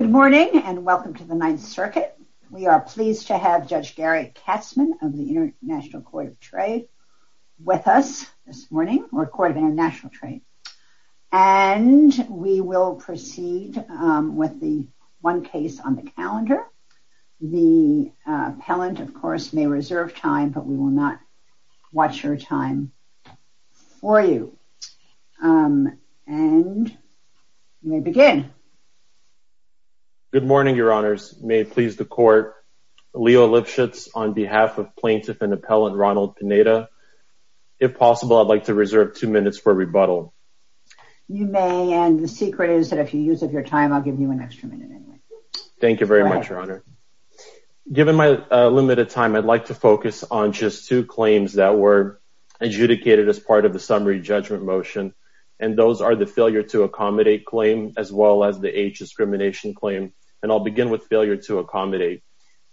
Good morning and welcome to the Ninth Circuit. We are pleased to have Judge Gary Katzmann of the International Court of Trade with us this morning or Court of International Trade and we will proceed with the one case on the calendar. The appellant of course may reserve time but we will not watch her time for you. And we begin. Good morning Your Honors. May it please the Court. Leo Lipschitz on behalf of plaintiff and appellant Ronald Pineda. If possible I'd like to reserve two minutes for rebuttal. You may and the secret is that if you use of your time I'll give you an extra minute. Thank you very much Your Honor. Given my limited time I'd like to focus on just two claims that were adjudicated as part of the summary judgment motion and those are the failure to accommodate claim as well as the age discrimination claim and I'll begin with failure to accommodate.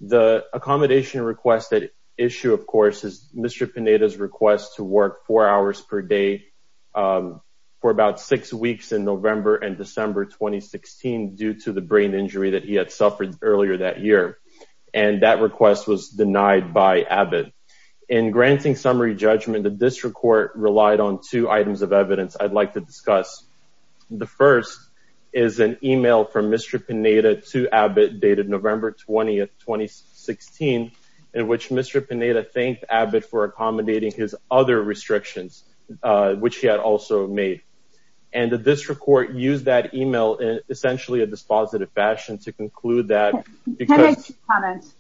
The accommodation request that issue of course is Mr. Pineda's request to work four hours per day for about six weeks in November and December 2016 due to the brain injury that he had suffered earlier that year and that request was denied by Abbott. In granting summary judgment the district court relied on two items of evidence I'd like to discuss. The first is an email from Mr. Pineda to Abbott dated November 20th 2016 in which Mr. Pineda thanked Abbott for accommodating his other restrictions which he had also made and the district court used that email in essentially a dispositive fashion to conclude that because... Can I make two comments?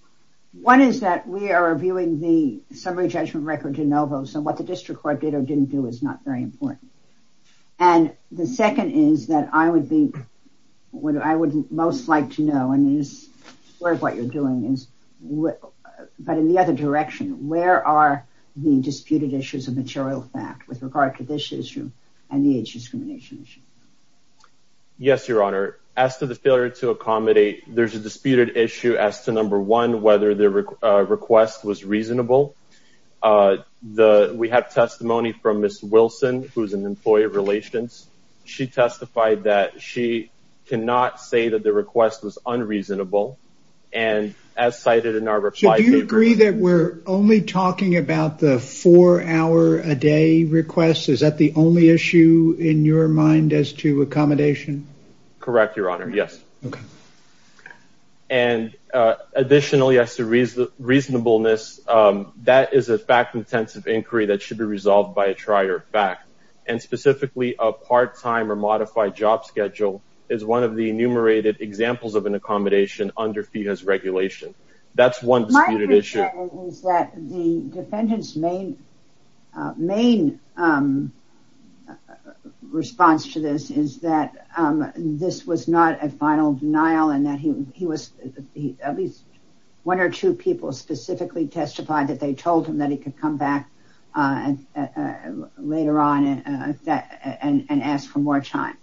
One is that we are reviewing the summary judgment record to Novos and what the district court did or didn't do is not very important and the second is that I would be what I would most like to know and is what you're doing is what but in the other direction where are the disputed issues of material fact with regard to this issue and the age discrimination issue? Yes your honor as to the failure to accommodate there's a disputed issue as to number one whether the request was reasonable the we have testimony from Miss Wilson who's an employee of relations she testified that she cannot say that the request was unreasonable and as cited in our reply... Do you agree that we're only talking about the four hour a day request is that the only issue in your mind as to accommodation? Correct your honor yes and additionally as to reasonableness that is a fact-intensive inquiry that should be resolved by a trier fact and specifically a part-time or modified job schedule is one of the enumerated examples of an accommodation under FEHA's regulation that's one disputed issue. My concern is that the defendant's main response to this is that this was not a final denial and that he was at least one or two people specifically testified that they told him that he could come back and later on and ask for more time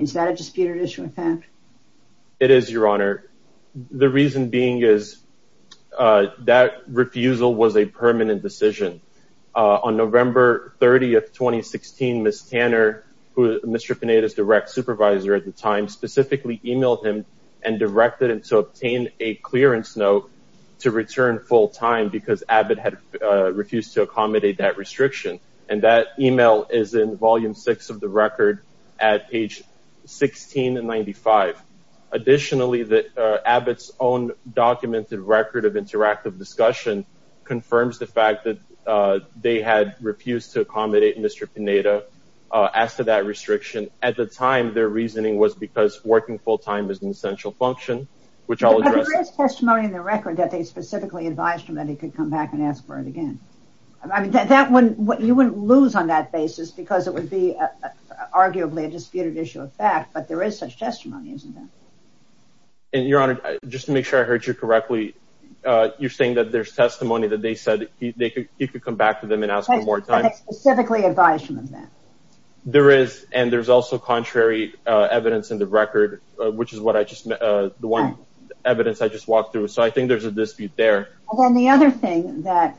is that a disputed issue in fact? It is your reason being is that refusal was a permanent decision on November 30th 2016 Miss Tanner who Mr. Panetta's direct supervisor at the time specifically emailed him and directed him to obtain a clearance note to return full-time because Abbott had refused to accommodate that restriction and that email is in volume 6 of the record at page 16 and 95. Additionally that Abbott's own documented record of interactive discussion confirms the fact that they had refused to accommodate Mr. Panetta as to that restriction at the time their reasoning was because working full-time is an essential function which I'll address. But there is testimony in the record that they specifically advised him that he could come back and ask for it again. I mean that one what you wouldn't lose on that basis because it would be arguably a disputed issue of fact but there is such testimony isn't there? And your honor just to make sure I heard you correctly you're saying that there's testimony that they said he could come back to them and ask for more time? They specifically advised him of that. There is and there's also contrary evidence in the record which is what I just the one evidence I just walked through so I think there's a dispute there. Well then the other thing that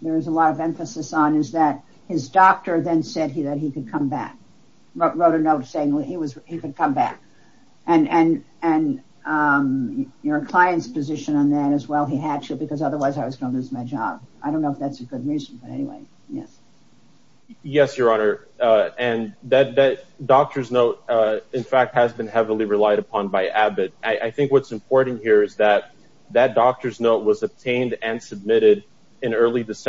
there's a lot of emphasis on is that his doctor then said he that he could come back wrote a note saying what he was he could come back and and and your clients position on that as well he had to because otherwise I was gonna lose my job. I don't know if that's a good reason but anyway yes. Yes your honor and that doctor's note in fact has been heavily relied upon by Abbott. I think what's important here is that that doctor's note was obtained and refused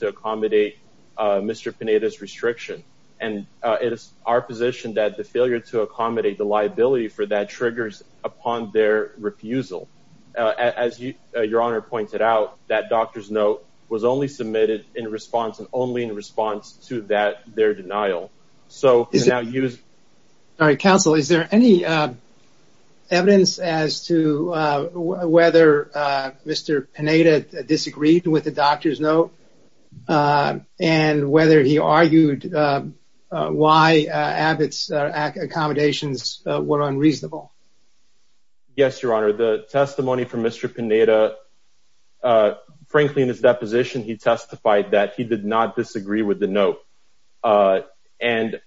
to accommodate Mr. Pineda's restriction and it is our position that the failure to accommodate the liability for that triggers upon their refusal. As you your honor pointed out that doctor's note was only submitted in response and only in response to that their denial. So is that use all right counsel is there any evidence as to whether Mr. Pineda disagreed with the doctor's note and whether he argued why Abbott's accommodations were unreasonable? Yes your honor the testimony from Mr. Pineda frankly in his deposition he testified that he did not disagree with the note and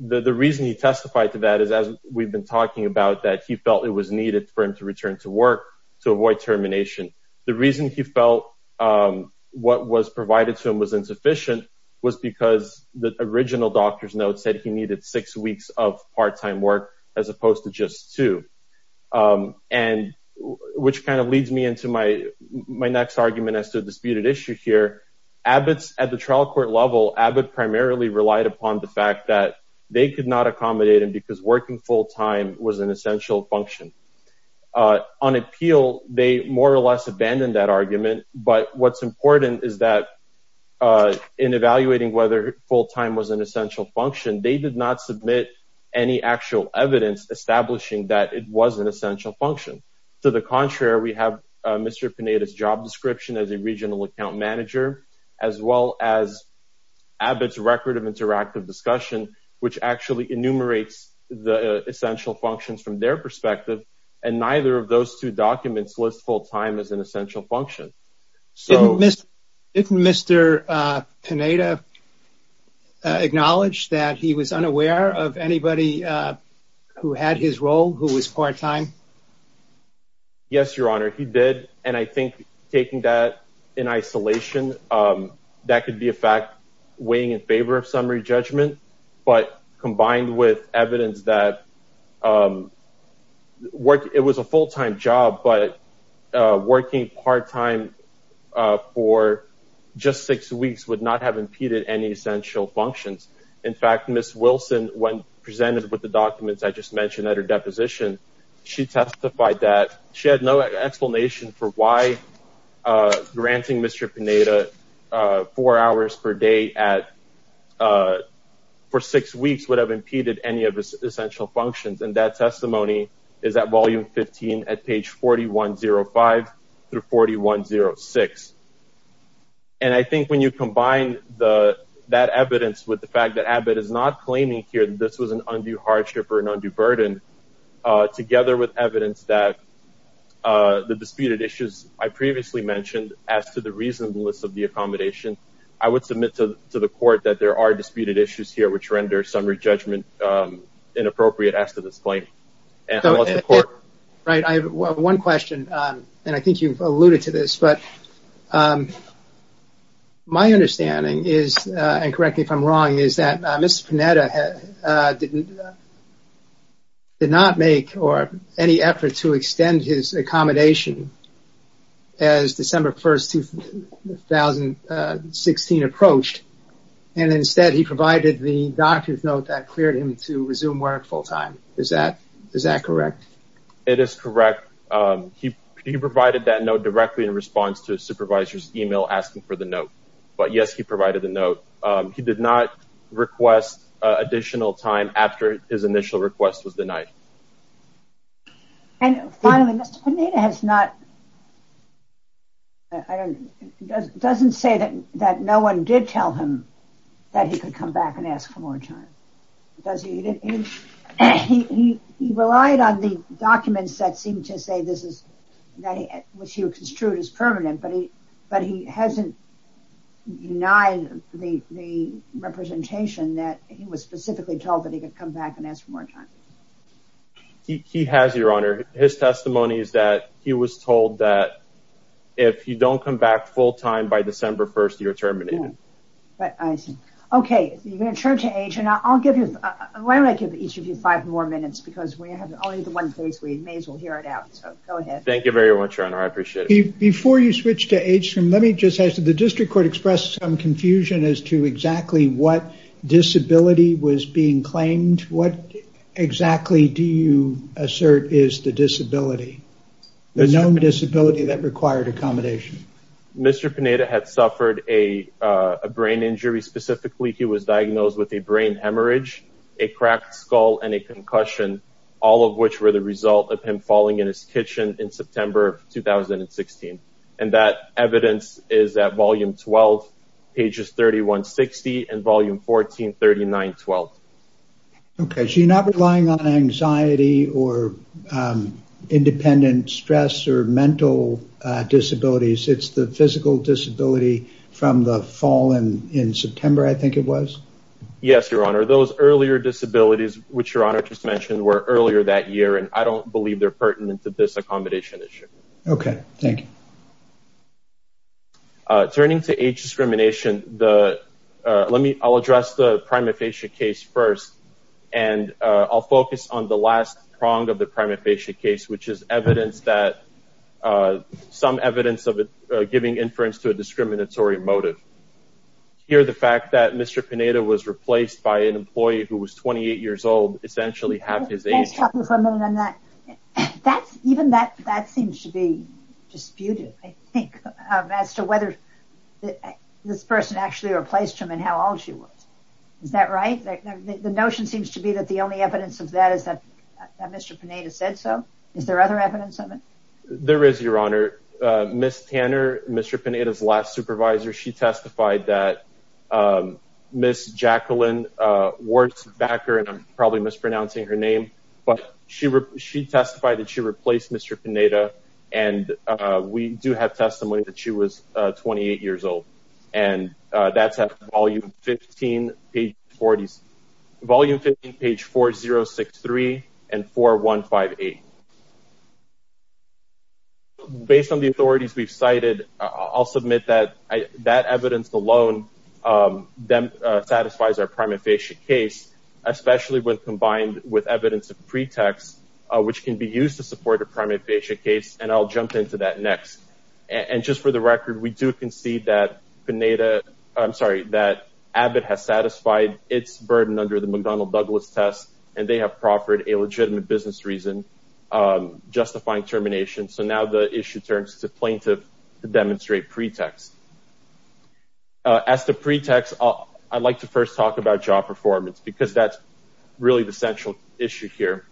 the reason he testified to that is as we've been talking about that he felt it was needed for him to return to work to avoid termination. The reason he felt what was provided to him was insufficient was because the original doctor's note said he needed six weeks of part-time work as opposed to just two and which kind of leads me into my my next argument as to the disputed issue here. Abbott's at the trial court level Abbott primarily relied upon the fact that they could not accommodate him because working full-time was an essential function. On appeal they more or less abandoned that argument but what's important is that in evaluating whether full-time was an essential function they did not submit any actual evidence establishing that it was an essential function. To the contrary we have Mr. Pineda's job description as a regional account manager as well as record of interactive discussion which actually enumerates the essential functions from their perspective and neither of those two documents list full-time as an essential function. Didn't Mr. Pineda acknowledge that he was unaware of anybody who had his role who was part-time? Yes your honor he did and I think taking that in isolation that could be a fact weighing in favor of summary judgment but combined with evidence that work it was a full-time job but working part-time for just six weeks would not have impeded any essential functions. In fact Miss Wilson when presented with the documents I just for why granting Mr. Pineda four hours per day at for six weeks would have impeded any of his essential functions and that testimony is that volume 15 at page 4105 through 4106 and I think when you combine the that evidence with the fact that Abbott is not claiming here this was an undue hardship or an undue burden together with evidence that the disputed issues I previously mentioned as to the reasonableness of the accommodation I would submit to the court that there are disputed issues here which render summary judgment inappropriate as to this point. Right I have one question and I think you've alluded to this but my understanding is and correct me if I'm wrong is that Mr. Pineda did not make or any effort to extend his accommodation as December 1st 2016 approached and instead he provided the doctor's note that cleared him to resume work full-time is that is that correct? It is correct he provided that note directly in response to a supervisor's email asking for the note but yes he provided the note he did not request additional time after his initial request was denied. And finally Mr. Pineda has not I don't doesn't say that that no one did tell him that he could come back and ask for more time does he he relied on the documents that seemed to say this is which he denied the representation that he was specifically told that he could come back and ask for more time? He has your honor his testimony is that he was told that if you don't come back full-time by December 1st you're terminated. Okay you can turn to H and I'll give you why don't I give each of you five more minutes because we have only the one place we may as well hear it out so go ahead. Thank you very much your honor I appreciate it. Before you switch to H let me just ask the district court expressed some confusion as to exactly what disability was being claimed what exactly do you assert is the disability the known disability that required accommodation? Mr. Pineda had suffered a brain injury specifically he was diagnosed with a brain hemorrhage a cracked skull and a concussion all of which were the result of him falling in his kitchen in September of 2016 and that evidence is at volume 12 pages 3160 and volume 1439 12. Okay so you're not relying on anxiety or independent stress or mental disabilities it's the physical disability from the fall and in September I think it was? Yes your honor those earlier disabilities which your honor just mentioned were earlier that year and I don't believe they're pertinent to this accommodation issue. Okay thank you. Turning to age discrimination the let me I'll address the prima facie case first and I'll focus on the last prong of the prima facie case which is evidence that some evidence of it giving inference to a discriminatory motive. Here the fact that Mr. Pineda was replaced by an employee who was 28 years old essentially half his age. That's even that that seems to be disputed I think as to whether this person actually replaced him and how old she was. Is that right? The notion seems to be that the only evidence of that is that Mr. Pineda said so. Is there other evidence of it? There is your honor. Miss Tanner Mr. Pineda's last supervisor she testified that Miss Jacqueline Wurtzbacher and I'm probably mispronouncing her name but she testified that she replaced Mr. Pineda and we do have testimony that she was 28 years old and that's at volume 15 page 40 volume 15 page 4063 and 4158. Based on the authorities we've cited I'll submit that that evidence alone then satisfies our prima facie case especially when combined with evidence of pretext which can be used to support a prima facie case and I'll jump into that next and just for the record we do concede that Pineda I'm sorry that Abbott has satisfied its burden under the McDonnell Douglas test and they have proffered a legitimate business reason justifying termination so now the issue turns to plaintiff to demonstrate pretext. As the pretext I'd like to first talk about job performance because that's really the central issue here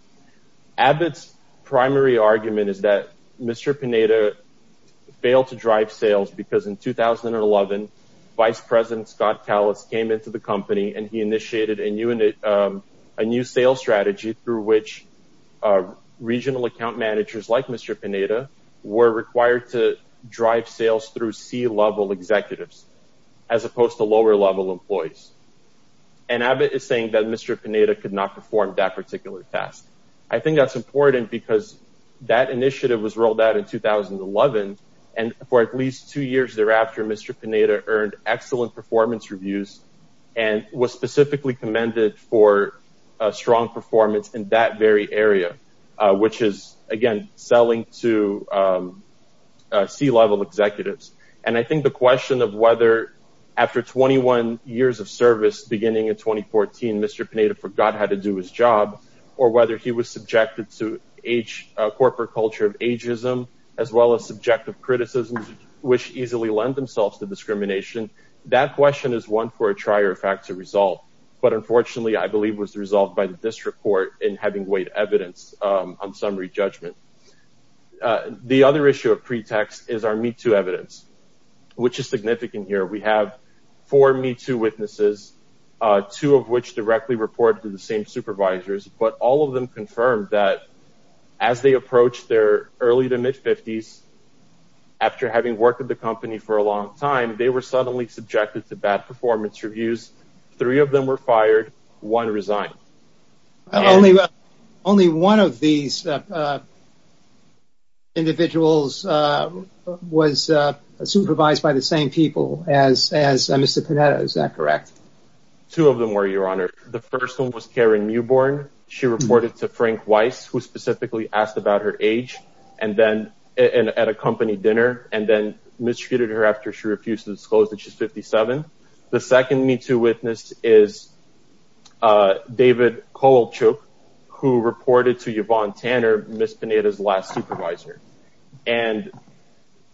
Abbott's primary argument is that Mr. Pineda failed to drive sales because in 2011 Vice President Scott Callis came into the company and he initiated a new and a new sales strategy through which regional account managers like Mr. Pineda were required to drive sales through C-level executives as opposed to lower-level employees and Abbott is saying that Mr. Pineda could not perform that particular task. I think that's important because that initiative was rolled out in 2011 and for at least two years thereafter Mr. Pineda earned excellent performance reviews and was specifically commended for a strong performance in that very area which is again selling to C-level executives and I think the question of whether after 21 years of service beginning in 2014 Mr. Pineda forgot how to do his job or whether he was subjected to age corporate culture of ageism as well as subjective criticisms which easily lend themselves to discrimination that question is one for a trier of fact to resolve but unfortunately I believe was resolved by the district court in having weighed evidence on summary judgment. The other issue of pretext is our Me Too evidence which is significant here we have four Me Too witnesses two of which directly reported to the same supervisors but all of them confirmed that as they approached their early to mid 50s after having worked at the company for a long time they were suddenly subjected to bad performance reviews three of them were fired one resigned. Only one of these individuals was supervised by the same people as as Mr. Pineda is that correct? Two of them were your honor the first one was Karen Newborn she reported to Frank Weiss who specifically asked about her age and then at a company dinner and then mistreated her after she refused to 57. The second Me Too witness is David Kolchuk who reported to Yvonne Tanner Miss Pineda's last supervisor and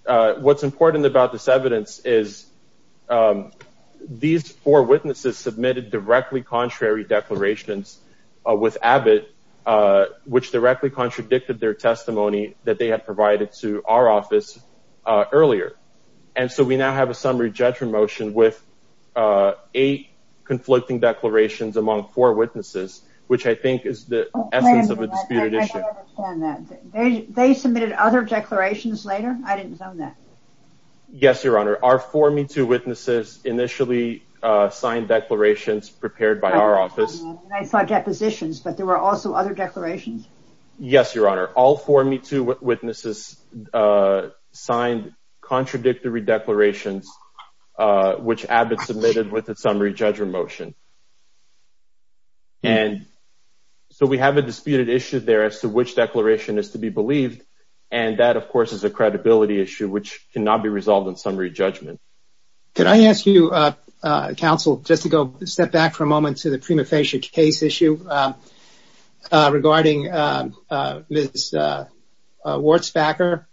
what's important about this evidence is these four witnesses submitted directly contrary declarations with Abbott which directly contradicted their testimony that they had provided to our office earlier and so we now have a summary judgment motion with eight conflicting declarations among four witnesses which I think is the essence of a disputed issue. They submitted other declarations later? I didn't know that. Yes your honor our four Me Too witnesses initially signed declarations prepared by our office. I saw depositions but there were also other declarations? Yes your honor all four Me Too witnesses signed contradictory declarations which Abbott submitted with a summary judgment motion and so we have a disputed issue there as to which declaration is to be believed and that of course is a credibility issue which cannot be resolved in summary judgment. Could I ask you counsel just to go step back for a moment to the prima facie case issue regarding Ms. Wurtzbacher.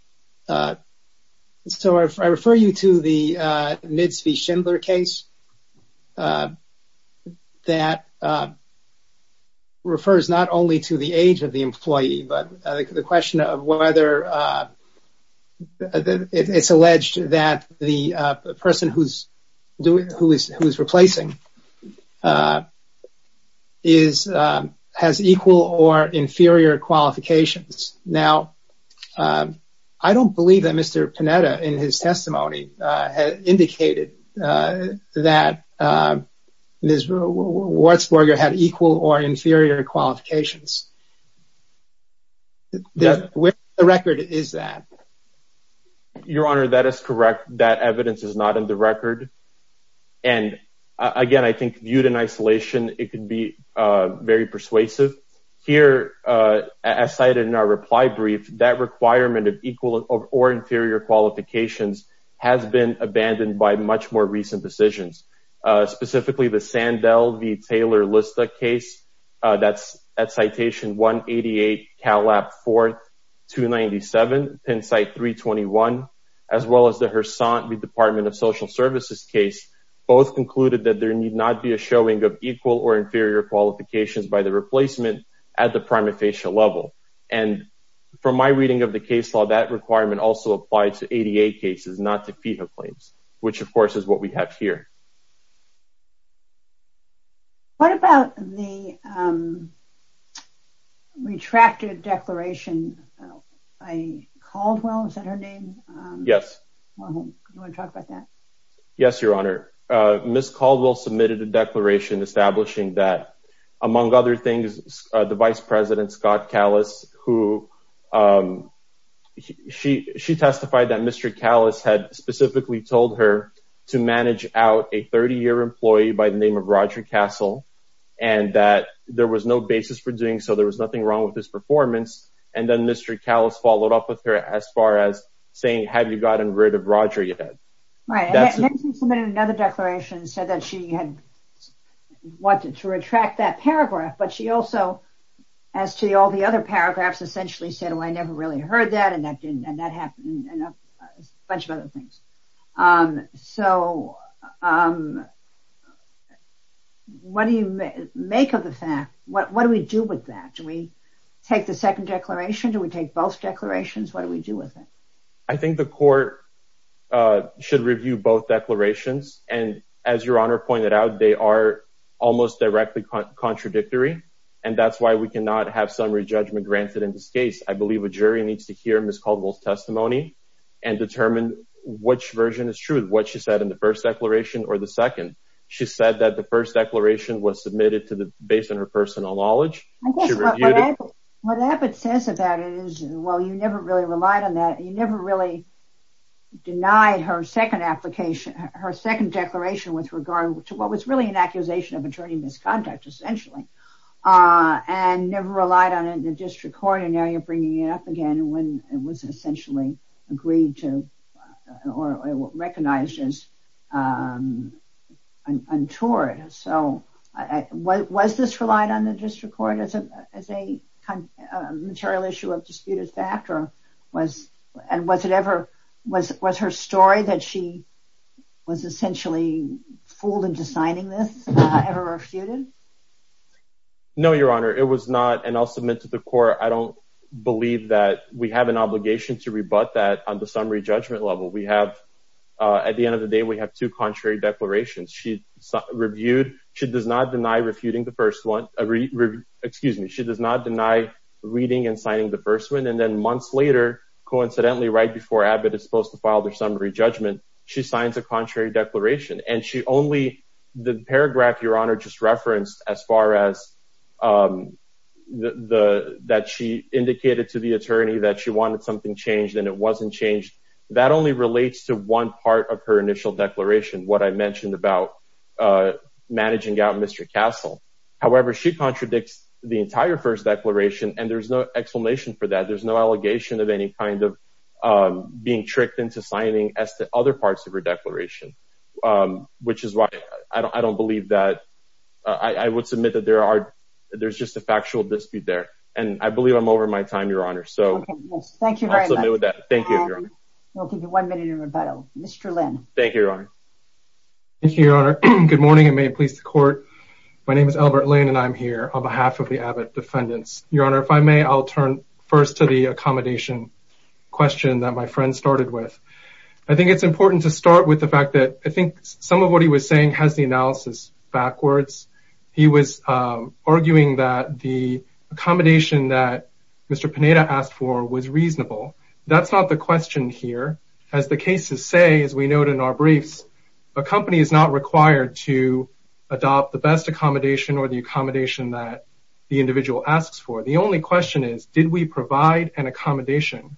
So I refer you to the Nitz v. Schindler case that refers not only to the age of the employee but the question of whether it's alleged that the person who's doing who is who's replacing has equal or inferior qualifications. Now I don't believe that Mr. Panetta in his testimony indicated that Ms. Wurtzbacher had equal or inferior qualifications. Where the record is that? Your honor that is correct that evidence is not in the record and again I think viewed in isolation it could be very persuasive. Here as cited in our reply brief that requirement of equal or inferior qualifications has been abandoned by much more recent decisions specifically the Sandell v. Taylor-Lista case that's at citation 188 Calap 4th 297, Penn site 321 as well as the Hersante v. Department of Social Services case both concluded that there need not be a showing of equal or inferior qualifications by the replacement at the prima facie level and from my reading of the case law that requirement also applied to ADA cases not to FEHA claims which of course is what we have here. What about the retracted declaration by Caldwell? Yes. Yes your honor Ms. Caldwell submitted a declaration establishing that among other things the vice president Scott Callis who she testified that Mr. Callis had specifically told her to manage out a 30-year employee by the name of Roger Castle and that there was no basis for doing so there was nothing wrong with this performance and then Mr. Callis followed up with her as far as saying have you gotten rid of Roger yet? Right. She submitted another declaration and said that she had wanted to retract that paragraph but she also as to all the other paragraphs essentially said oh I never really heard that and that didn't and that happened and a bunch of other things. So what do you make of the fact what what do we do with that? Do we take the second declaration? Do we take both declarations? What do we do with it? I think the court should review both declarations and as your honor pointed out they are almost directly contradictory and that's why we cannot have summary judgment granted in this case. I believe a jury needs to hear Ms. Which version is true? What she said in the first declaration or the second? She said that the first declaration was submitted to the based on her personal knowledge. What Abbott says about it is well you never really relied on that you never really denied her second application her second declaration with regard to what was really an accusation of attorney misconduct essentially and never relied on it in the district court and now you're bringing it up again when it was essentially agreed to or recognized as untoward. So what was this relied on the district court as a material issue of disputed fact or was and was it ever was was her story that she was essentially fooled into signing this ever refuted? No your honor it was not and I'll submit to the court I don't believe that we have an obligation to rebut that on the summary judgment level we have at the end of the day we have two contrary declarations she reviewed she does not deny refuting the first one excuse me she does not deny reading and signing the first one and then months later coincidentally right before Abbott is supposed to file their summary judgment she signs a contrary declaration and she only the paragraph your honor just referenced as far as the that she indicated to the attorney that she wanted something changed and it wasn't changed that only relates to one part of her initial declaration what I mentioned about managing out Mr. Castle however she contradicts the entire first declaration and there's no explanation for that there's no allegation of any kind of being tricked into signing as to other parts of her declaration which is why I don't believe that I would submit that there are there's just a factual dispute there and I believe I'm over my time your honor so thank you I'll give you one minute in rebuttal Mr. Lin thank you your honor good morning and may it please the court my name is Albert Lane and I'm here on behalf of the Abbott defendants your honor if I may I'll turn first to the accommodation question that my friend started with I think it's important to start with the fact that I think some of what he was saying has the analysis backwards he was arguing that the accommodation that mr. Panetta asked for was reasonable that's not the question here as the cases say as we note in our briefs a company is not required to adopt the best accommodation or the accommodation that the individual asks for the only question is did we provide an accommodation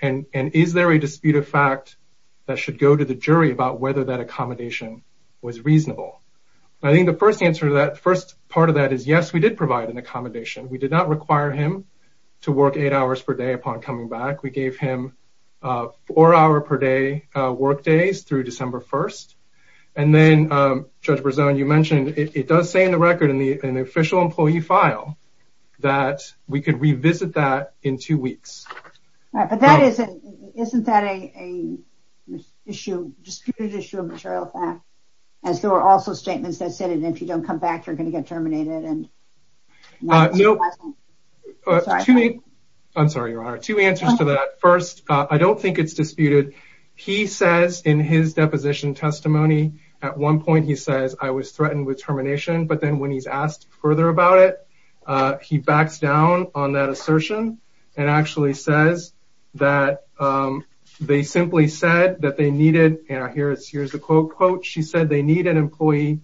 and and is there a dispute of fact that should go to the jury about whether that accommodation was reasonable I think the first answer to that first part of that is yes we did provide an accommodation we did not require him to work eight hours per day upon coming back we gave him four hour per day workdays through December 1st and then judge Brazzo and you mentioned it does say in the record in the official employee file that we could revisit that in two weeks but that isn't isn't that a issue dispute issue of material fact as there are also if you don't come back you're going to get terminated and you know I'm sorry you are two answers to that first I don't think it's disputed he says in his deposition testimony at one point he says I was threatened with termination but then when he's asked further about it he backs down on that assertion and actually says that they simply said that they needed and I hear it's here's the quote she said they need an employee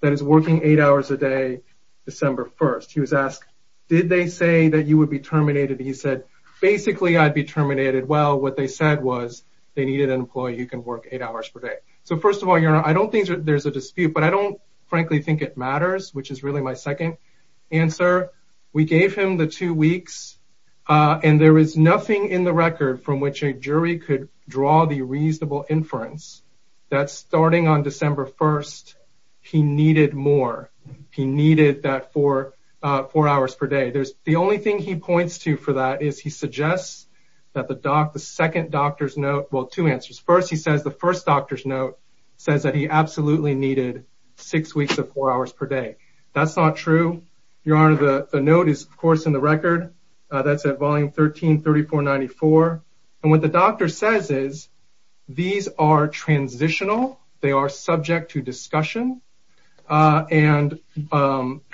that is working eight hours a day December 1st he was asked did they say that you would be terminated he said basically I'd be terminated well what they said was they needed an employee you can work eight hours per day so first of all you know I don't think there's a dispute but I don't frankly think it matters which is really my second answer we gave him the two weeks and there is nothing in the record from which a jury could draw the reasonable inference that's starting on December 1st he needed more he needed that for four hours per day there's the only thing he points to for that is he suggests that the doc the second doctor's note well two answers first he says the first doctor's note says that he absolutely needed six weeks of four hours per day that's not true your the note is of course in the record that's at volume 13 3494 and what the doctor says is these are transitional they are subject to discussion and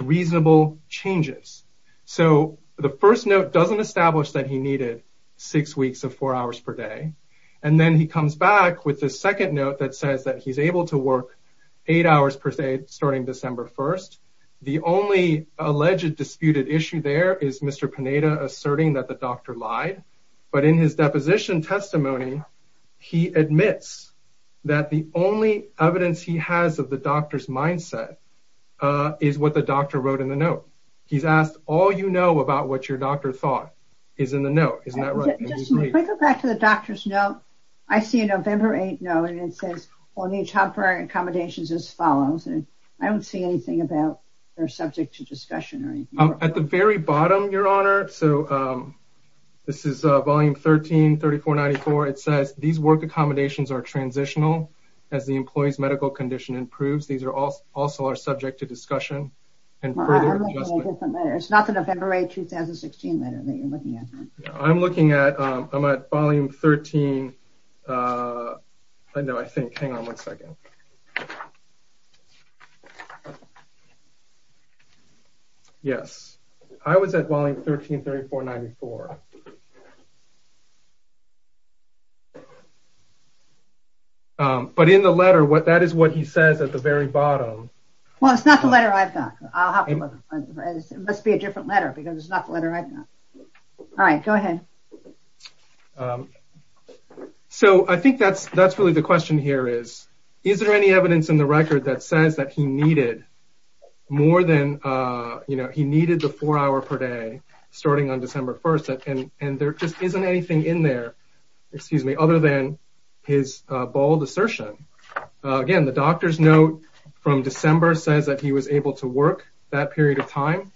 reasonable changes so the first note doesn't establish that he needed six weeks of four hours per day and then he comes back with the second note that says that he's able to work eight hours per day starting December 1st the only alleged disputed issue there is mr. Panetta asserting that the doctor lied but in his deposition testimony he admits that the only evidence he has of the doctor's mindset is what the doctor wrote in the note he's asked all you know about what your doctor thought is in the note isn't that right back to the doctor's note I see a November 8th no and it says on the top for accommodations as follows I don't see anything about they're subject to discussion or at the very bottom your honor so this is volume 13 3494 it says these work accommodations are transitional as the employees medical condition improves these are all also are subject to discussion and it's not the November 8 2016 letter that you're looking at I'm looking at I'm at volume 13 I know I am yes I was at volume 13 3494 but in the letter what that is what he says at the very bottom well it's not the letter I've got it must be a different letter because it's not the letter I've got all right go ahead so I think that's really the question here is is there any evidence in the record that says that he needed more than you know he needed the four hour per day starting on December 1st and and there just isn't anything in there excuse me other than his bold assertion again the doctor's note from December says that he was able to work that period of time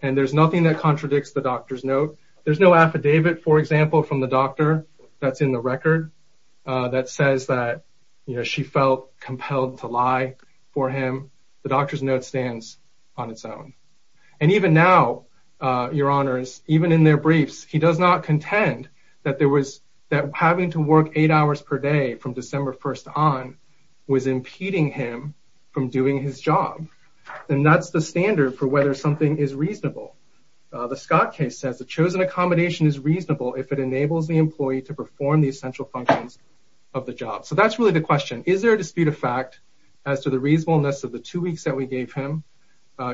and there's nothing that contradicts the doctor's note there's no affidavit for example from the doctor that's in the record that says that you know she felt compelled to lie for him the doctor's note stands on its own and even now your honors even in their briefs he does not contend that there was that having to work eight hours per day from December 1st on was impeding him from doing his job and that's the standard for whether something is reasonable the Scott case says the chosen accommodation is of the job so that's really the question is there a dispute of fact as to the reasonableness of the two weeks that we gave him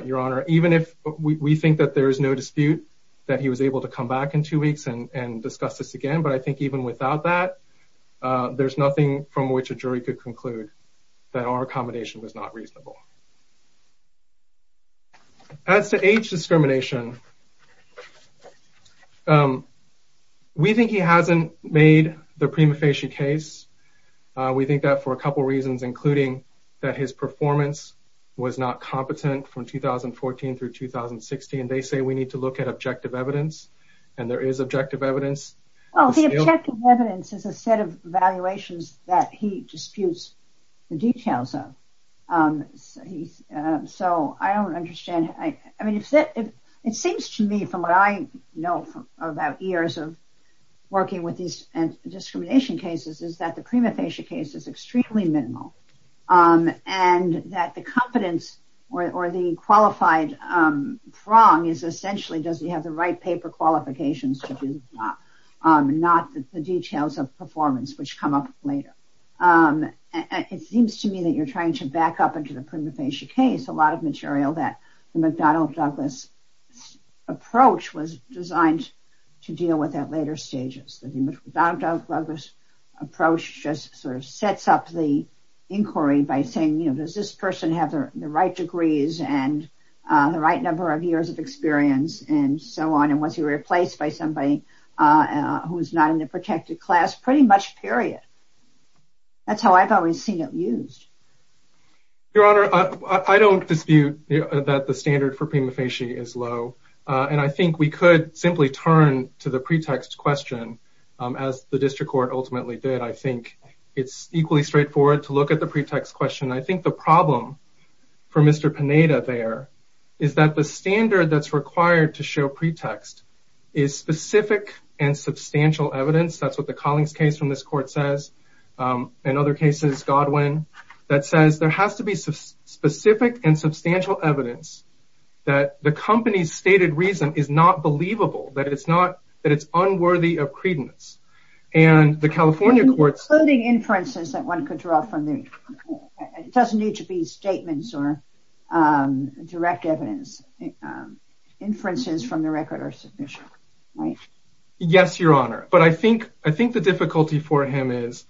your honor even if we think that there is no dispute that he was able to come back in two weeks and discuss this again but I think even without that there's nothing from which a jury could conclude that our accommodation was not reasonable as to discrimination we think he hasn't made the prima facie case we think that for a couple reasons including that his performance was not competent from 2014 through 2016 they say we need to look at objective evidence and there is objective evidence as a set of valuations that he disputes the details so I don't understand I mean it's it it seems to me from what I know about years of working with these and discrimination cases is that the prima facie case is extremely minimal and that the competence or the qualified prong is essentially does he have the right paper qualifications to do not the details of trying to back up into the prima facie case a lot of material that the McDonald-Douglas approach was designed to deal with at later stages the McDonald-Douglas approach just sort of sets up the inquiry by saying you know does this person have the right degrees and the right number of years of experience and so on and was he replaced by somebody who is not in the protected class pretty much period that's how I've always seen it used your honor I don't dispute that the standard for prima facie is low and I think we could simply turn to the pretext question as the district court ultimately did I think it's equally straightforward to look at the pretext question I think the problem for mr. Panetta there is that the standard that's required to show colleagues case from this court says in other cases Godwin that says there has to be some specific and substantial evidence that the company's stated reason is not believable that it's not that it's unworthy of credence and the California courts loading inferences that one could draw from there it doesn't need to be statements or direct evidence inferences from the record are the difficulty for him is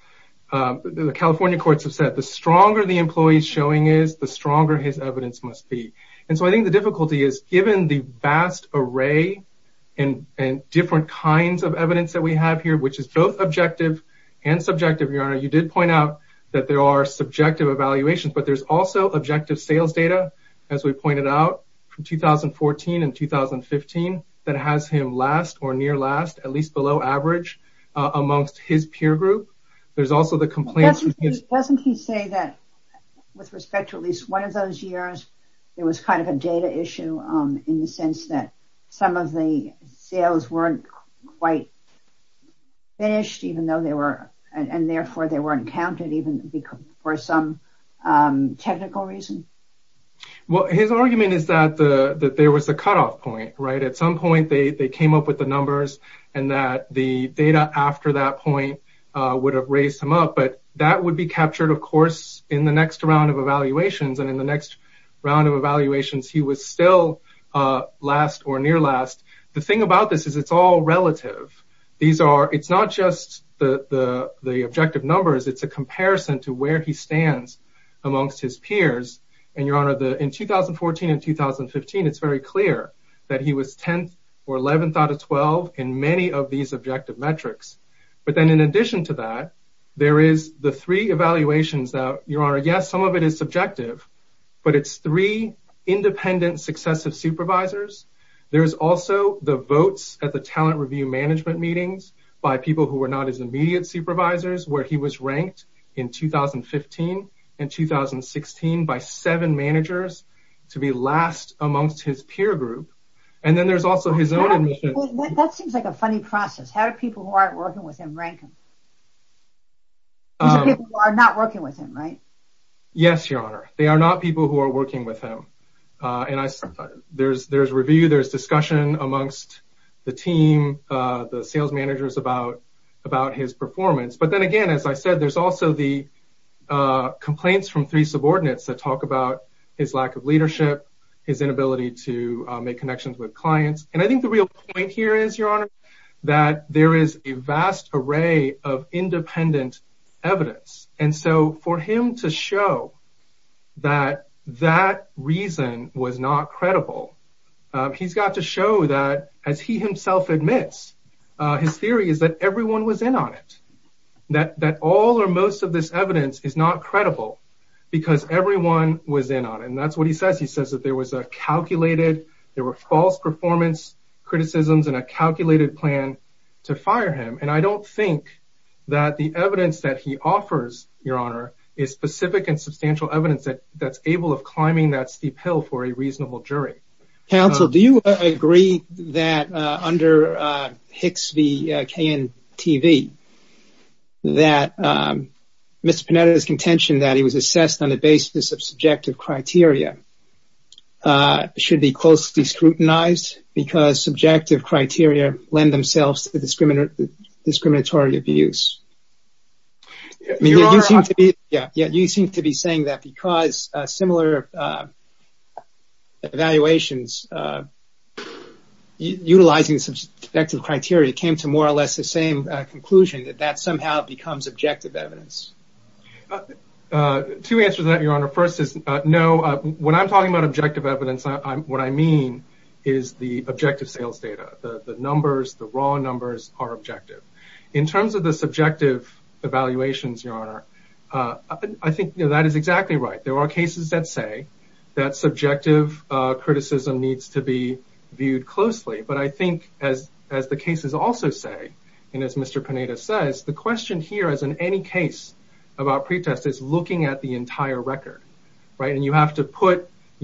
the California courts have said the stronger the employees showing is the stronger his evidence must be and so I think the difficulty is given the vast array and and different kinds of evidence that we have here which is both objective and subjective your honor you did point out that there are subjective evaluations but there's also objective sales data as we pointed out from 2014 and 2015 that has him last or near last at least below average amongst his peer group there's also the complaints yes doesn't he say that with respect to at least one of those years there was kind of a data issue in the sense that some of the sales weren't quite finished even though they were and therefore they weren't counted even because for some technical reason well his argument is that the that there was a cutoff point right at some point they they came up with the numbers and that the data after that point would have raised him up but that would be captured of course in the next round of evaluations and in the next round of evaluations he was still last or near last the thing about this is it's all relative these are it's not just the the the objective numbers it's a comparison to where he stands amongst his peers and your honor the in 2014 and 2015 it's very clear that he was 10 or 11th out of 12 in many of these objective metrics but then in addition to that there is the three evaluations that your honor yes some of it is subjective but it's three independent successive supervisors there's also the votes at the talent review management meetings by people who were not as immediate supervisors where he was ranked in 2015 and 2016 by seven group and then there's also his own that seems like a funny process how do people who aren't working with him Rankin are not working with him right yes your honor they are not people who are working with him and I said there's there's review there's discussion amongst the team the sales managers about about his performance but then again as I said there's also the complaints from three subordinates that talk about his lack of leadership his inability to make connections with clients and I think the real point here is your honor that there is a vast array of independent evidence and so for him to show that that reason was not credible he's got to show that as he himself admits his theory is that everyone was in on it that that all or most of this evidence is not credible because everyone was in on it and that's what he says he says that there was a calculated there were false performance criticisms and a calculated plan to fire him and I don't think that the evidence that he offers your honor is specific and substantial evidence that that's able of climbing that steep hill for a reasonable jury counsel do you agree that under Hicks the KN TV that mr. Panetta is contention that he was should be closely scrutinized because subjective criteria lend themselves to the discriminatory abuse yeah yeah you seem to be saying that because similar evaluations utilizing subjective criteria came to more or less the same conclusion that that somehow becomes objective evidence to answer that your I'm talking about objective evidence I'm what I mean is the objective sales data the numbers the raw numbers are objective in terms of the subjective evaluations your honor I think that is exactly right there are cases that say that subjective criticism needs to be viewed closely but I think as as the cases also say and as mr. Panetta says the question here as in any case about right and you have to put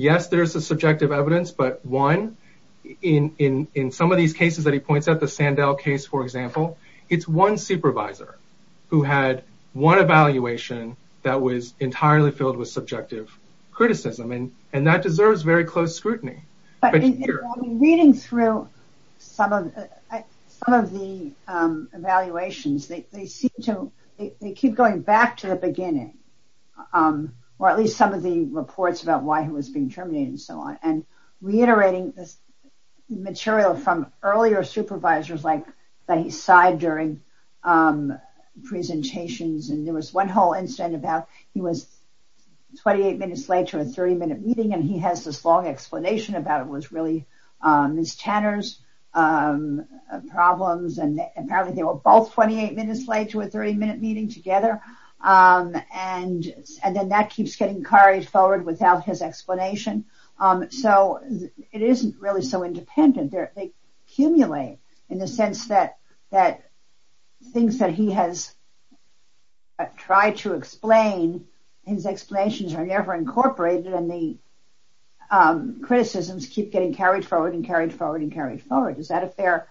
yes there's a subjective evidence but one in in in some of these cases that he points out the Sandell case for example it's one supervisor who had one evaluation that was entirely filled with subjective criticism and and that deserves very close scrutiny reading through some of the evaluations they seem to keep going back to the beginning or at least some of the reports about why he was being terminated and so on and reiterating this material from earlier supervisors like that he sighed during presentations and there was one whole incident about he was 28 minutes late to a 30 minute meeting and he has this long explanation about it was really miss Tanner's problems and apparently they were both 28 minutes late to a 30 minute meeting together and and then that keeps getting carried forward without his explanation so it isn't really so independent there they accumulate in the sense that that things that he has tried to explain his explanations are never incorporated and the criticisms keep getting carried forward and carried forward and carried forward is that a fair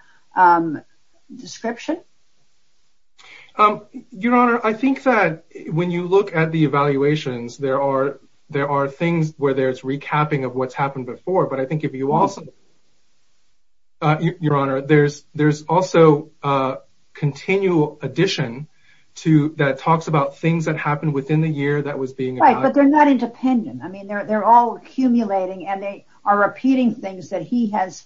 description your honor I think that when you look at the evaluations there are there are things where there's recapping of what's happened before but I think if you also your honor there's there's also a continual addition to that talks about things that happened within the year that was being right but they're not independent I mean they're all accumulating and they are repeating things that he has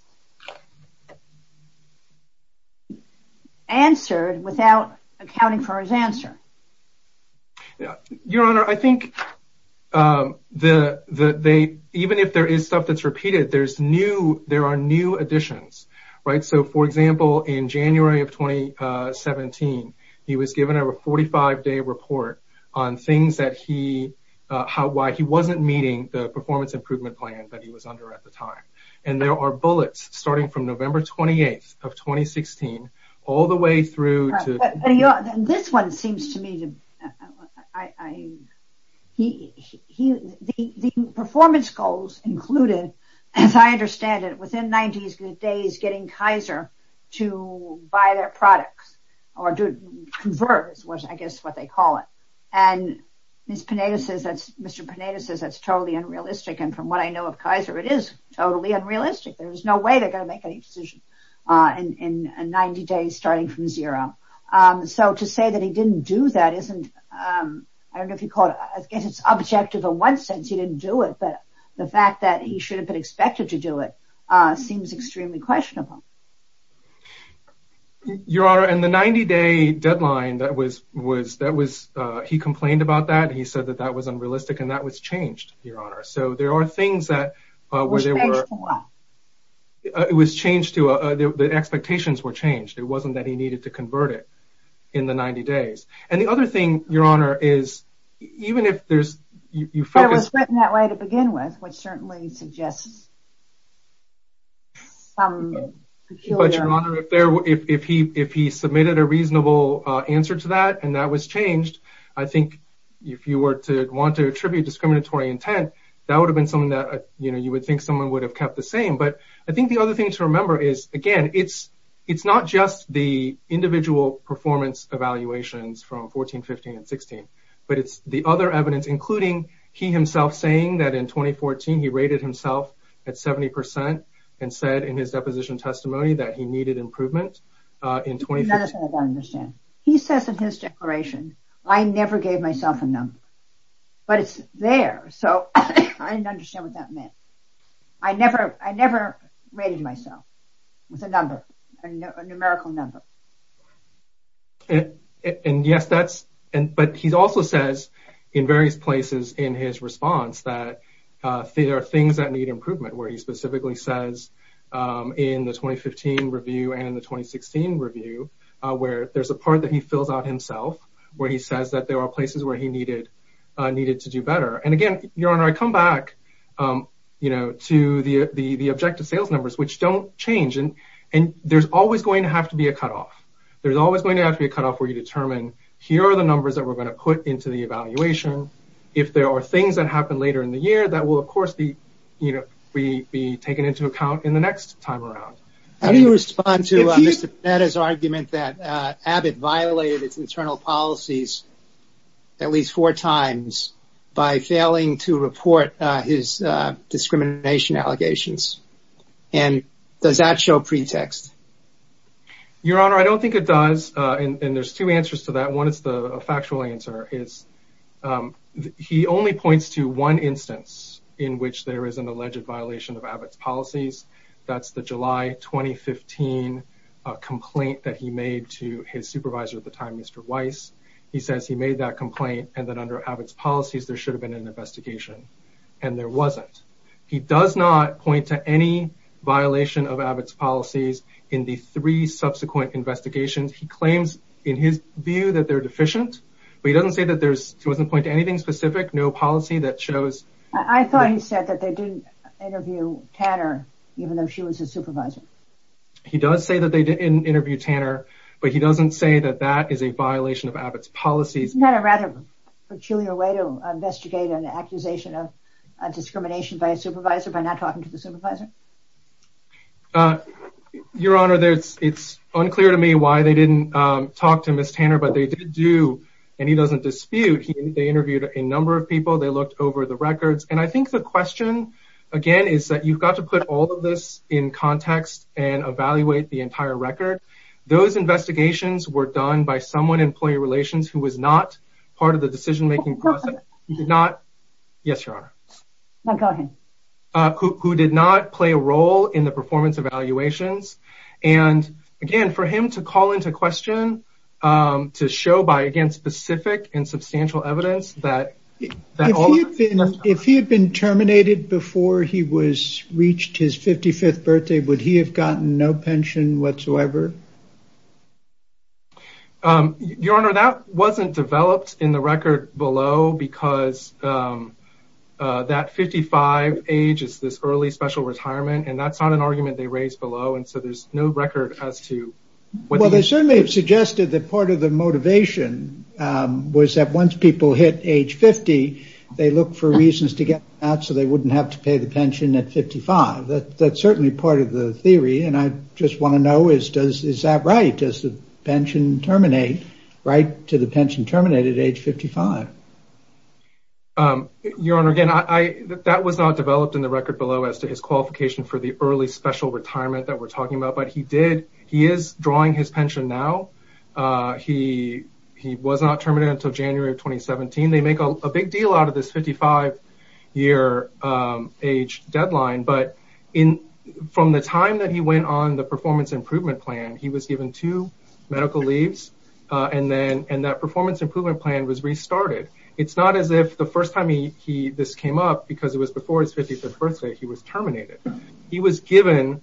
answered without accounting for his answer yeah your honor I think the the they even if there is stuff that's repeated there's new there are new additions right so for example in January of 2017 he was given a 45 day report on things that he how why he wasn't meeting the performance improvement plan that he was under at the time and there are bullets starting from November 28th of 2016 all the way through to this one seems to me the performance goals included as I to buy their products or do it converts was I guess what they call it and miss Panetta says that's mr. Panetta says that's totally unrealistic and from what I know of Kaiser it is totally unrealistic there's no way they're gonna make any decision in 90 days starting from zero so to say that he didn't do that isn't I don't know if you caught I guess it's objective in one sense he didn't do it but the fact that he should have been expected to do it seems extremely questionable your honor and the 90-day deadline that was was that was he complained about that he said that that was unrealistic and that was changed your honor so there are things that where they were it was changed to the expectations were changed it wasn't that he needed to convert it in the 90 days and the other thing your honor is even if there's you focus that way to submitted a reasonable answer to that and that was changed I think if you were to want to attribute discriminatory intent that would have been something that you know you would think someone would have kept the same but I think the other thing to remember is again it's it's not just the individual performance evaluations from 14 15 and 16 but it's the other evidence including he himself saying that in 2014 he rated himself at 70% and said in his deposition testimony that he needed improvement in 2010 he says in his declaration I never gave myself a number but it's there so I never I never rated myself with a number a numerical number and yes that's and but he's also says in various places in his response that there are things that need improvement where he specifically says in the 2015 review and in the 2016 review where there's a part that he fills out himself where he says that there are places where he needed needed to do better and again your honor I come back you know to the the the objective sales numbers which don't change and and there's always going to have to be a cutoff there's always going to have to be a cutoff where you determine here are the numbers that we're going to put into the evaluation if there are things that happen later in the year that will of course be you know we be taken into account in the next time around how do you respond to that as argument that Abbott violated its internal policies at least four times by failing to report his discrimination allegations and does that show pretext your honor I don't think it does and there's two answers to that one it's the factual answer is he only points to one instance in which there is an alleged violation of Abbott's policies that's the July 2015 complaint that he made to his supervisor at the time mr. Weiss he says he made that complaint and that under Abbott's policies there should have been an investigation and there wasn't he does not point to any violation of Abbott's investigations he claims in his view that they're deficient but he doesn't say that there's wasn't point to anything specific no policy that shows I thought he said that they didn't interview Tanner even though she was a supervisor he does say that they didn't interview Tanner but he doesn't say that that is a violation of Abbott's policies not a rather peculiar way to investigate an accusation of discrimination by a supervisor by not talking to the supervisor your honor there's it's unclear to me why they didn't talk to miss Tanner but they did do and he doesn't dispute he they interviewed a number of people they looked over the records and I think the question again is that you've got to put all of this in context and evaluate the entire record those investigations were done by someone employee relations who was not part of the decision-making process not yes your honor who did not play a role in the performance evaluations and again for him to call into question to show by again specific and substantial evidence that if he had been terminated before he was reached his 55th birthday would he have gotten no pension whatsoever your honor that wasn't developed in the record below because that 55 age is this early special retirement and that's not an argument they raised below and so there's no record as to what they certainly have suggested that part of the motivation was that once people hit age 50 they look for reasons to get out so they wouldn't have to pay the pension at 55 that that's certainly part of the theory and I just want to know is does is that right does the pension terminate right to the pension terminated age 55 your honor again I that was not developed in the record below as to his qualification for the early special retirement that we're talking about but he did he is drawing his pension now he he was not terminated until January of 2017 they make a big deal out of this 55 year age deadline but in from the time that he went on the performance improvement plan he was given two medical leaves and then and that performance improvement plan was restarted it's not as if the first time he this came up because it was before his 50th birthday he was terminated he was given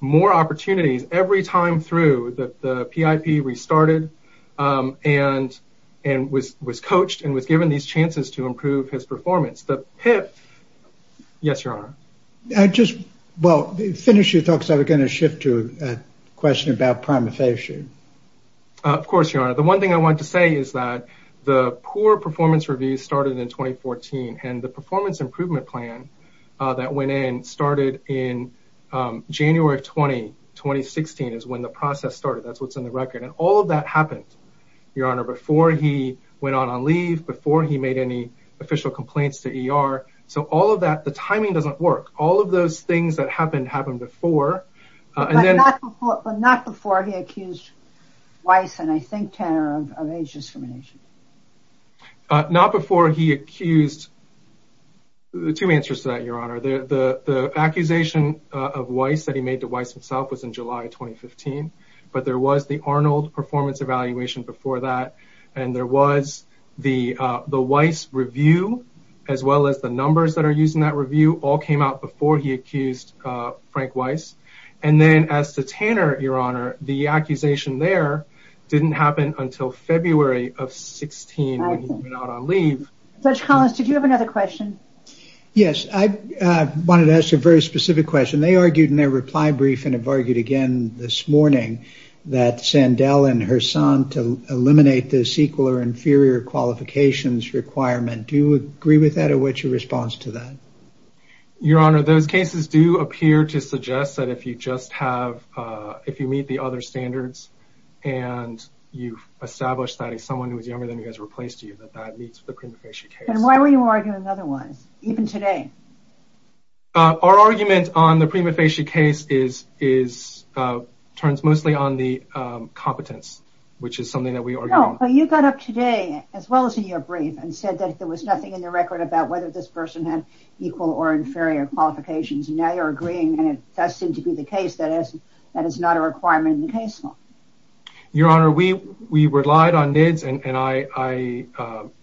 more opportunities every time through that the PIP restarted and and was was coached and was given these chances to improve his performance the PIP yes your honor I just well finish your thoughts I was going to shift to a question about primatization of course your honor the one thing I want to say is that the poor performance review started in 2014 and the performance improvement plan that went in started in January of 20 2016 is when the process started that's what's in the record and all of that happened your honor before he went on on leave before he made any official complaints to ER so all of that the timing doesn't work all of those things that happened happened before and then not before he accused Weiss and I think Tanner of age discrimination not before he accused the two answers to your honor the the the accusation of Weiss that he made to Weiss himself was in July 2015 but there was the Arnold performance evaluation before that and there was the the Weiss review as well as the numbers that are used in that review all came out before he accused Frank Weiss and then as to Tanner your honor the accusation there didn't happen until February of 16 leave Dutch wanted to ask a very specific question they argued in their reply brief and have argued again this morning that Sandell and her son to eliminate this equal or inferior qualifications requirement do you agree with that or what's your response to that your honor those cases do appear to suggest that if you just have if you meet the other standards and you've established that as someone who was younger than he has replaced you that that meets the our argument on the prima facie case is is turns mostly on the competence which is something that we are you got up today as well as in your brief and said that there was nothing in the record about whether this person had equal or inferior qualifications now you're agreeing and it does seem to be the case that is that is not a requirement in the case law your honor we we relied on nids and I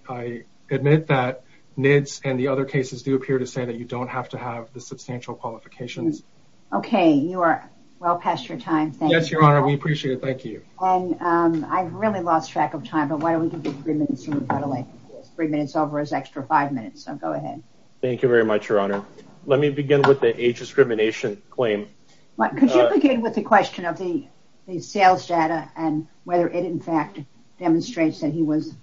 I admit that nids and the other cases do appear to say that you don't have to have the substantial qualifications okay you are well past your time yes your honor we appreciate it thank you and I really lost track of time but why don't we give you three minutes three minutes over as extra five minutes so go ahead thank you very much your honor let me begin with the age discrimination claim what could you begin with the question of the sales data and whether it in fact demonstrates that he was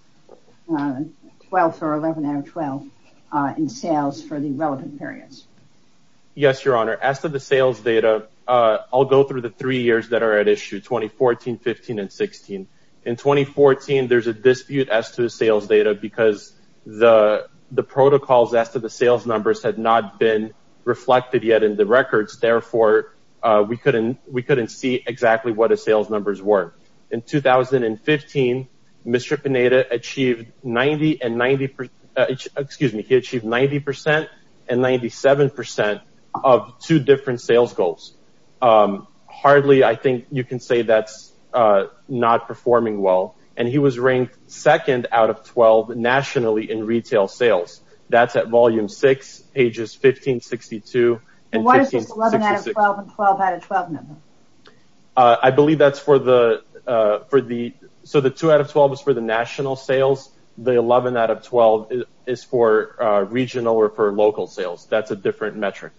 well for 11 out of 12 in sales for the relevant periods yes your honor as to the sales data I'll go through the three years that are at issue 2014 15 and 16 in 2014 there's a dispute as to the sales data because the the protocols as to the sales numbers had not been reflected yet in the records therefore we couldn't we sales numbers were in 2015 mr. Panetta achieved 90 and 90 per excuse me he achieved 90 percent and 97 percent of two different sales goals hardly I think you can say that's not performing well and he was ranked second out of 12 nationally in retail sales that's at volume 6 pages 1562 I believe that's for the for the so the 2 out of 12 is for the national sales the 11 out of 12 is for regional or for local sales that's a different metric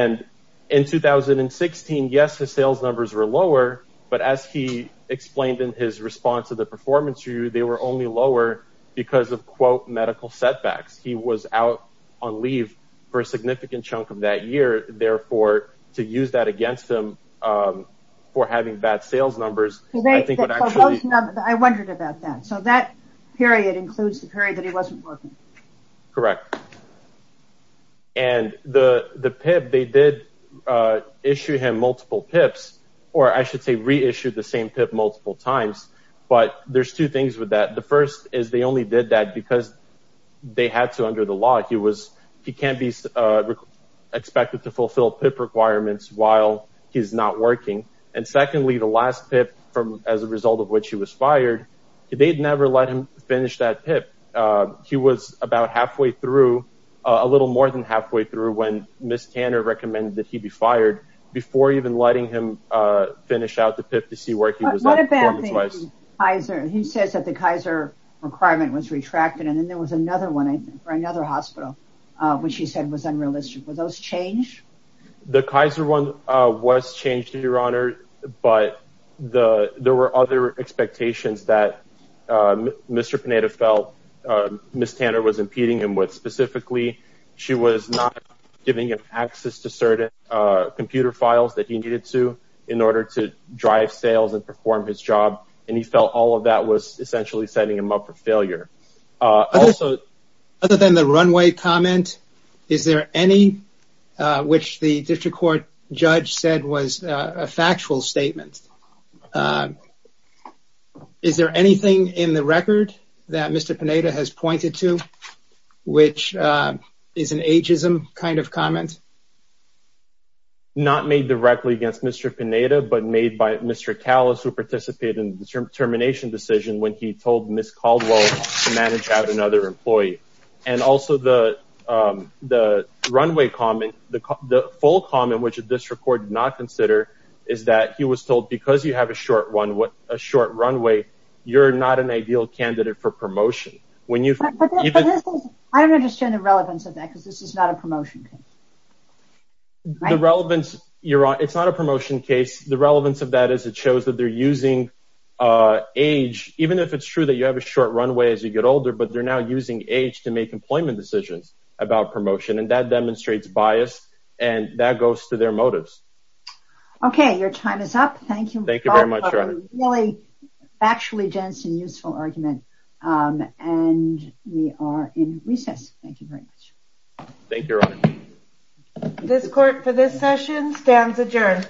and in 2016 yes the sales numbers were lower but as he explained in his response to the performance review they were only lower because of quote medical setbacks he was out on leave for a significant chunk of that year therefore to use that against him for having bad sales numbers I think I wondered about that so that period includes the period that he wasn't working correct and the the PIP they did issue him multiple PIPs or I should say reissued the same PIP multiple times but there's two things with that the first is they only did that because they had to under the law he was he can't be expected to fulfill PIP requirements while he's not working and secondly the last PIP from as a result of which he was fired they'd never let him finish that PIP he was about halfway through a little more than halfway through when Miss Tanner recommended that he be fired before even letting him finish out the PIP to see where he was. What about the Kaiser he says that the Kaiser requirement was retracted and then there was another one for another hospital which he said was those change? The Kaiser one was changed your honor but the there were other expectations that Mr. Panetta felt Miss Tanner was impeding him with specifically she was not giving him access to certain computer files that he needed to in order to drive sales and perform his job and he felt all of that was essentially setting him up for failure. Also other than the runway comment is there any which the district court judge said was a factual statement is there anything in the record that Mr. Panetta has pointed to which is an ageism kind of comment? Not made directly against Mr. Panetta but made by Mr. Callas who participated in the termination decision when he told Miss Caldwell to manage out another employee and also the the runway comment the full comment which this record did not consider is that he was told because you have a short one what a short runway you're not an ideal candidate for promotion. I don't understand the relevance of that because this is not a promotion case. The relevance your honor it's not a promotion case the relevance of that is it shows that they're using age even if it's true that you have a runway as you get older but they're now using age to make employment decisions about promotion and that demonstrates bias and that goes to their motives. Okay your time is up thank you. Thank you very much your honor. A really factually dense and useful argument and we are in recess thank you very much. Thank you your honor. This court for this session stands adjourned.